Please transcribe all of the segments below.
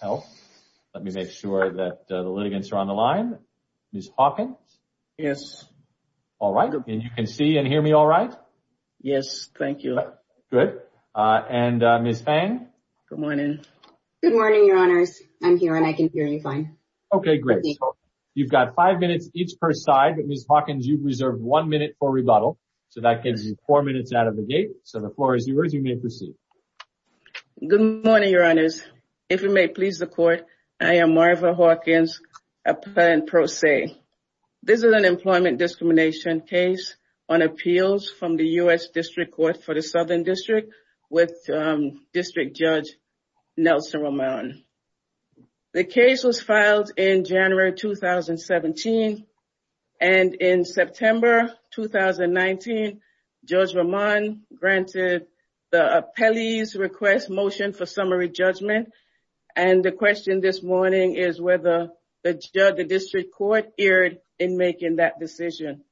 Health. Let me make sure that the litigants are on the line. Ms. Hawkins? Yes. All right. And you can see and hear me all right? Yes. Thank you. Good. And Ms. Fang? Good morning. Good morning, your honors. I'm here and I can hear you fine. Okay, great. You've got five minutes each per side, but Ms. Hawkins, you've reserved one minute for rebuttal. So that gives you four minutes out of the gate. So the floor is yours. You may proceed. Good morning, your honors. If you may please the court, I am Marva Hawkins, a plan pro se. This is an employment discrimination case on appeals from the U.S. District Court for the Southern District with District Judge Nelson Roman. The case was filed in January 2017. And in September 2019, Judge Roman granted the appellee's request motion for summary judgment. And the question this morning is whether the district court erred in making that decision.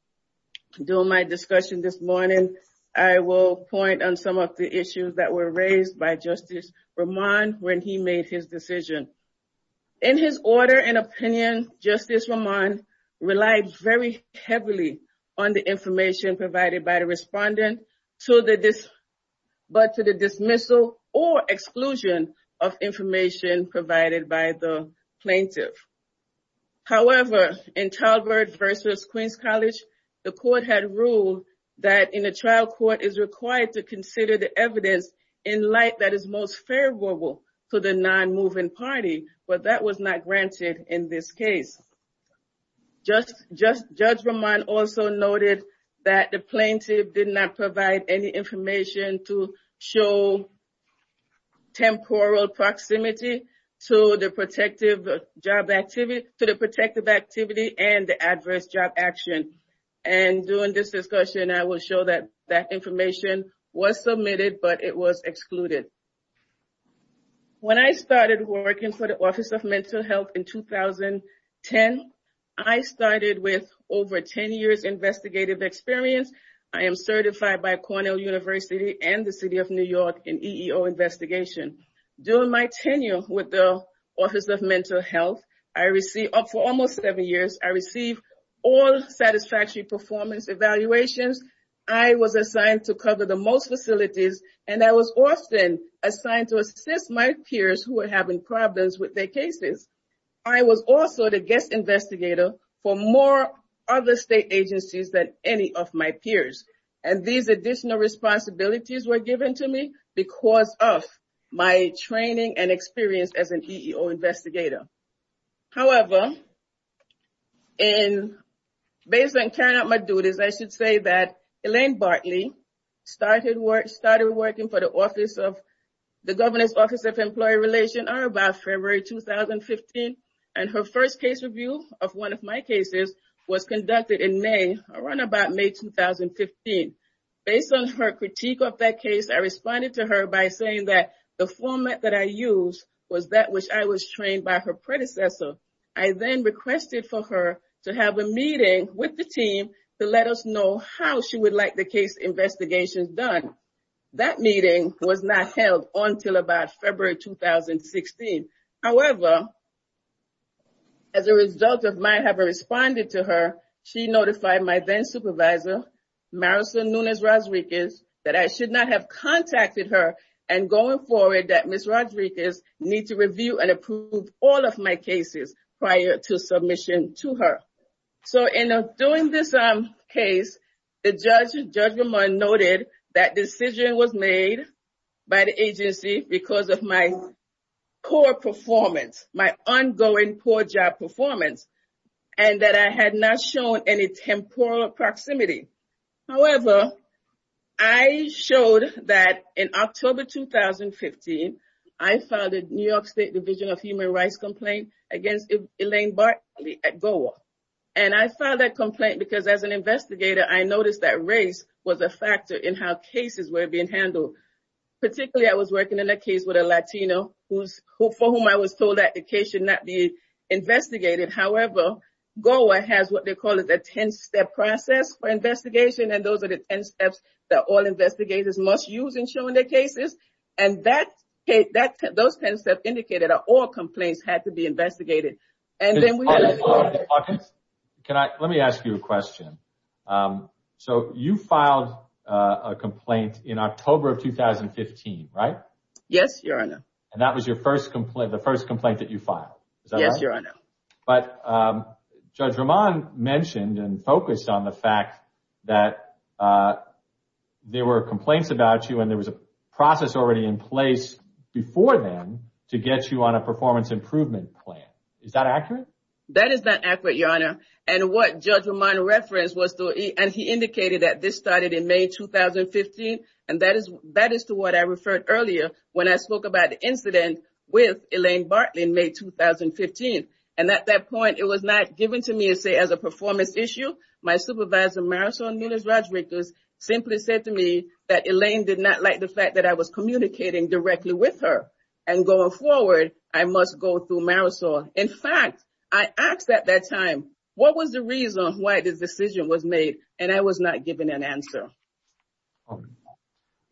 During my discussion this morning, I will point on some of the issues that were raised by Justice Roman when he made his decision. In his order and opinion, Justice Roman relied very heavily on the information provided by the respondent but to the dismissal or exclusion of information provided by the plaintiff. However, in Talbert versus Queens College, the court had ruled that in a trial court is required to consider the evidence in light that is most favorable to the non-moving party, but that was not granted in this case. Judge Roman also noted that the plaintiff did not provide any information to show temporal proximity to the protective job activity and the adverse job action. And during this discussion, I will show that that information was submitted, but it was excluded. When I started working for the Office of Mental Health in 2010, I started with over 10 years investigative experience. I am certified by Cornell University and the City of New York in EEO investigation. During my tenure with the Office of Mental Health, for almost seven years, I received all satisfactory performance evaluations. I was assigned to cover the most facilities and I was often assigned to assist my peers who were having problems with their cases. I was also the guest investigator for more other state agencies than any of my peers. And these additional responsibilities were given to me because of my training and experience as an EEO investigator. However, and based on carrying out my duties, I should say that Elaine Bartley started working for the Office of the Governor's Office of Employee Relations are about February 2015. And her first case review of one of my cases was conducted in May, around about May 2015. Based on her critique of that case, I responded to her by saying that the format that I used was that which I was trained by her predecessor. I then requested for her to have a meeting with the team to let us know how she would like the case investigations done. That meeting was not held until about February 2016. However, as a result of my having responded to her, she notified my then supervisor, Marisol Nunez Rodriguez, that I should not have contacted her and going forward that Ms. Rodriguez needs to review and approve all of my cases prior to submission to her. So, in doing this case, the judge noted that decision was made by the agency because of my core performance, my ongoing core job performance, and that I had not shown any temporal proximity. However, I showed that in October 2015, I filed a New York State Division of Human Rights complaint against Elaine Bartley at GOA. And I filed that complaint because as an investigator, I noticed that race was a factor in how cases were being handled. Particularly, I was working on a case with a Latino for whom I was told that the case should not be investigated. However, GOA has what they call a 10-step process for investigation, and those are the 10 steps that all investigators must use in showing their cases. And those 10 steps indicated that all complaints had to be investigated. Mr. Hawkins, let me ask you a question. So, you filed a complaint in October of 2015, right? Yes, Your Honor. And that was the first complaint that you filed, is that right? Yes, Your Honor. But Judge Ramon mentioned and focused on the fact that there were complaints about you and there was a process already in place before then to get you on a performance improvement plan. Is that accurate? That is not accurate, Your Honor. And what Judge Ramon referenced was, and he indicated that this started in May 2015, and that is to what I referred earlier when I spoke about the incident with Elaine Bartley in May 2015. And at that point, it was not given to me as a performance issue. My supervisor, Marisol Nunez-Rodriguez, simply said to me that Elaine did not like the fact that I was communicating directly with her. And going forward, I must go through Marisol. In fact, I asked at that time, what was the reason why this decision was made? And I was not given an answer.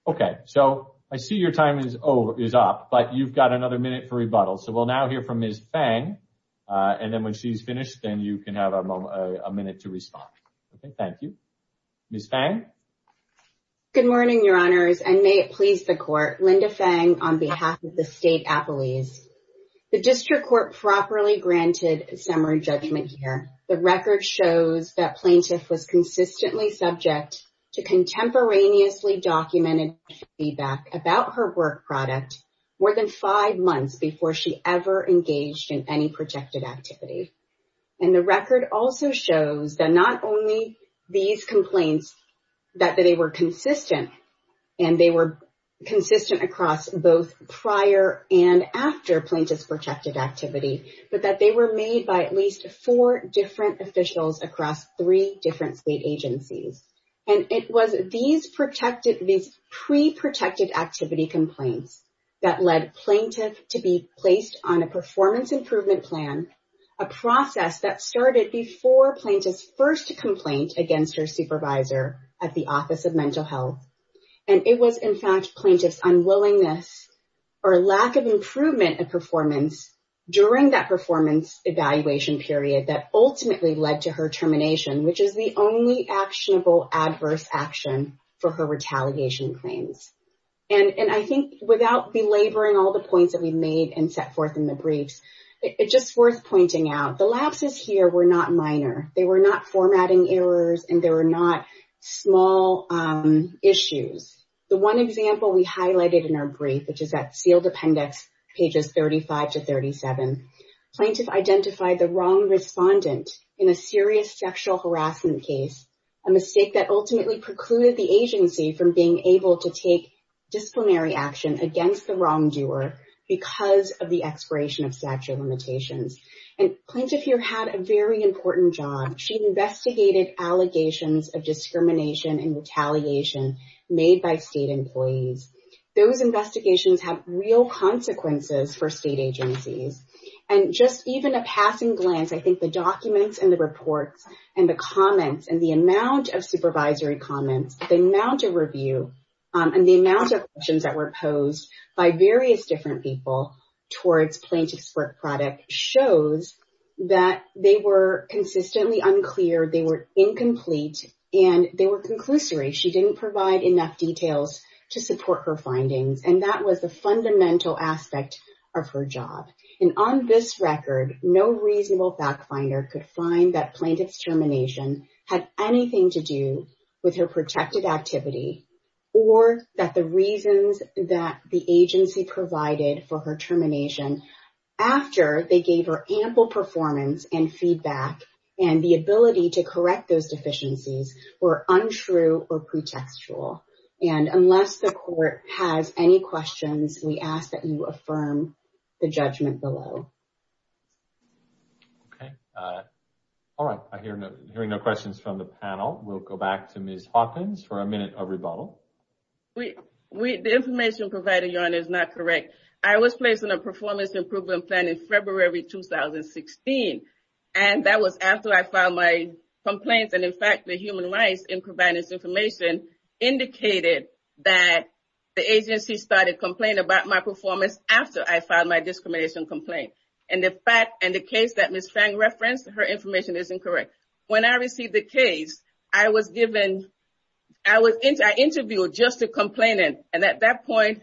Okay. So, I see your time is up, but you've got another minute for rebuttal. So, we'll now hear from Ms. Fang. And then when she's finished, then you can have a minute to respond. Thank you. Ms. Fang? Good morning, Your Honors. And may it please the Court, Linda Fang on behalf of the State Appellees. The District Court properly granted summary judgment here. The record shows that plaintiff was consistently subject to contemporaneously documented feedback about her work product more than five months before she ever engaged in any protected activity. And the record also shows that not only these complaints, that they were consistent, and they were consistent across both prior and after plaintiff's protected activity, but that they were made by at least four different officials across three different state agencies. And it was these pre-protected activity complaints that led plaintiff to be placed on a performance improvement plan, a process that started before plaintiff's first complaint against her supervisor at the Office of Mental Health. And it was, in fact, plaintiff's unwillingness or lack of improvement of performance during that performance evaluation period that ultimately led to her termination, which is the only actionable adverse action for her retaliation claims. And I think without belaboring all the points that we made and set forth in the briefs, it's just worth pointing out, the lapses here were not minor. They were not formatting errors, and they were not small issues. The one example we highlighted in our brief, which is that sealed appendix, pages 35 to 37, plaintiff identified the wrong respondent in a serious sexual harassment case, a mistake that ultimately precluded the agency from being able to take disciplinary action against the wrongdoer because of the expiration of statute limitations. And plaintiff here had a very important job. She investigated allegations of discrimination and retaliation made by state employees. Those investigations have real consequences for state agencies. And just even a passing glance, I think the documents and the reports and the comments and the amount of supervisory comments, the amount of review, and the amount of questions that were posed by various different people towards plaintiff's work product shows that they were consistently unclear, they were incomplete, and they were conclusory. She didn't provide enough details to support her findings, and that was the fundamental aspect of her job. And on this record, no reasonable back finder could find that plaintiff's termination had anything to do with her protected activity or that the reasons that the agency provided for her termination after they gave her ample performance and feedback and the ability to correct those deficiencies were untrue or pretextual. And unless the court has any questions, we ask that you affirm the judgment below. Okay. All right. I hear no questions from the panel. We'll go back to Ms. Hawkins for a minute of rebuttal. The information provided, Your Honor, is not correct. I was placed on a performance improvement plan in February 2016, and that was after I filed my complaints. And in fact, the human rights in providing this information indicated that the agency started complaining about my performance after I filed my discrimination complaint. And the fact and the case that Ms. Fang referenced, her information is incorrect. When I received the case, I was given – I interviewed just a complainant, and at that point,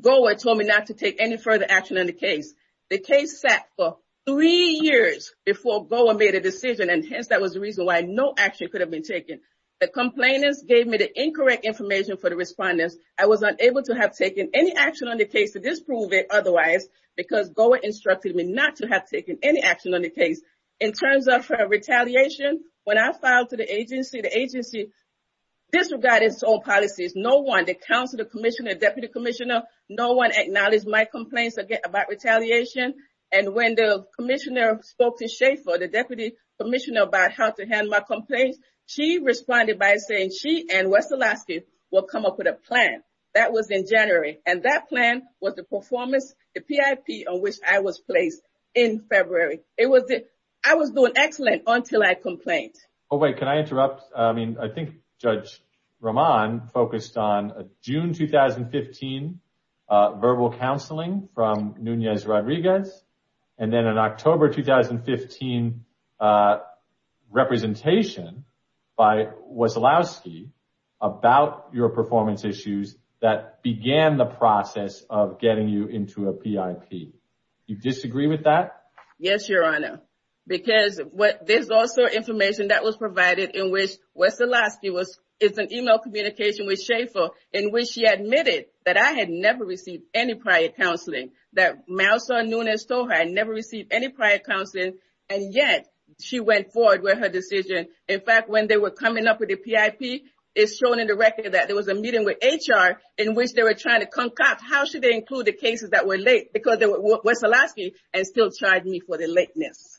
GOA told me not to take any further action on the case. The case sat for three years before GOA made a decision, and hence that was the reason why no action could have been taken. The complainants gave me the incorrect information for the respondents. I was unable to have taken any action on the case to disprove it otherwise, because GOA instructed me not to have taken any action on the case. In terms of her retaliation, when I filed to the agency, the agency disregarded its own policies. No one, the counsel, the commissioner, deputy commissioner, no one acknowledged my complaints about retaliation. And when the commissioner spoke to Schaefer, the deputy commissioner, about how to handle my complaints, she responded by saying she and West Alaska would come up with a plan. That was in January, and that plan was the performance, the PIP, on which I was placed in February. I was doing excellent until I complained. Oh wait, can I interrupt? I think Judge Rahman focused on June 2015 verbal counseling from Nunez Rodriguez, and then an October 2015 representation by Waslowski about your performance issues that began the process of getting you into a PIP. Do you disagree with that? Yes, Your Honor. Because what, there's also information that was provided in which Waslowski was, it's an email communication with Schaefer in which she admitted that I had never received any prior counseling. That my son Nunez told her I never received any prior counseling, and yet she went forward with her decision. In fact, when they were coming up with the PIP, it's shown in the record that there was a meeting with HR in which they were trying to concoct how should they include the cases that were late. Because there was Waslowski, and still tried me for the lateness.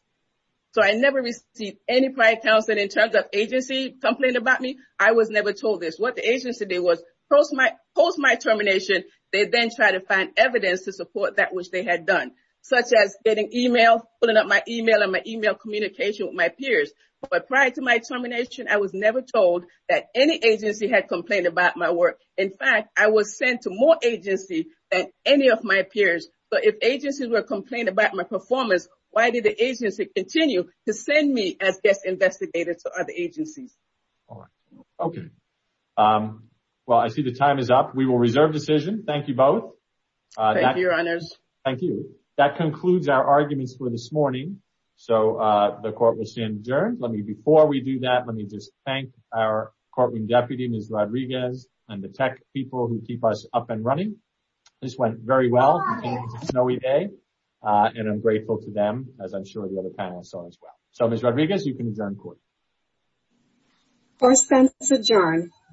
So, I never received any prior counseling in terms of agency complained about me. I was never told this. What the agency did was post my termination, they then tried to find evidence to support that which they had done, such as getting email, pulling up my email, and my email communication with my peers. But prior to my termination, I was never told that any agency had complained about my work. In fact, I was sent to more agency than any of my peers. But if agencies were complaining about my performance, why did the agency continue to send me as guest investigator to other agencies? All right. Okay. Well, I see the time is up. We will reserve decision. Thank you both. Thank you, Your Honors. Thank you. That concludes our arguments for this morning. So, the court will stand adjourned. Let me before we do that, let me just thank our Courtroom Deputy, Ms. Rodriguez, and the tech people who keep us up and running. This went very well. It's a snowy day, and I'm grateful to them, as I'm sure the other panelists are as well. So, Ms. Rodriguez, you can adjourn court. Court is adjourned.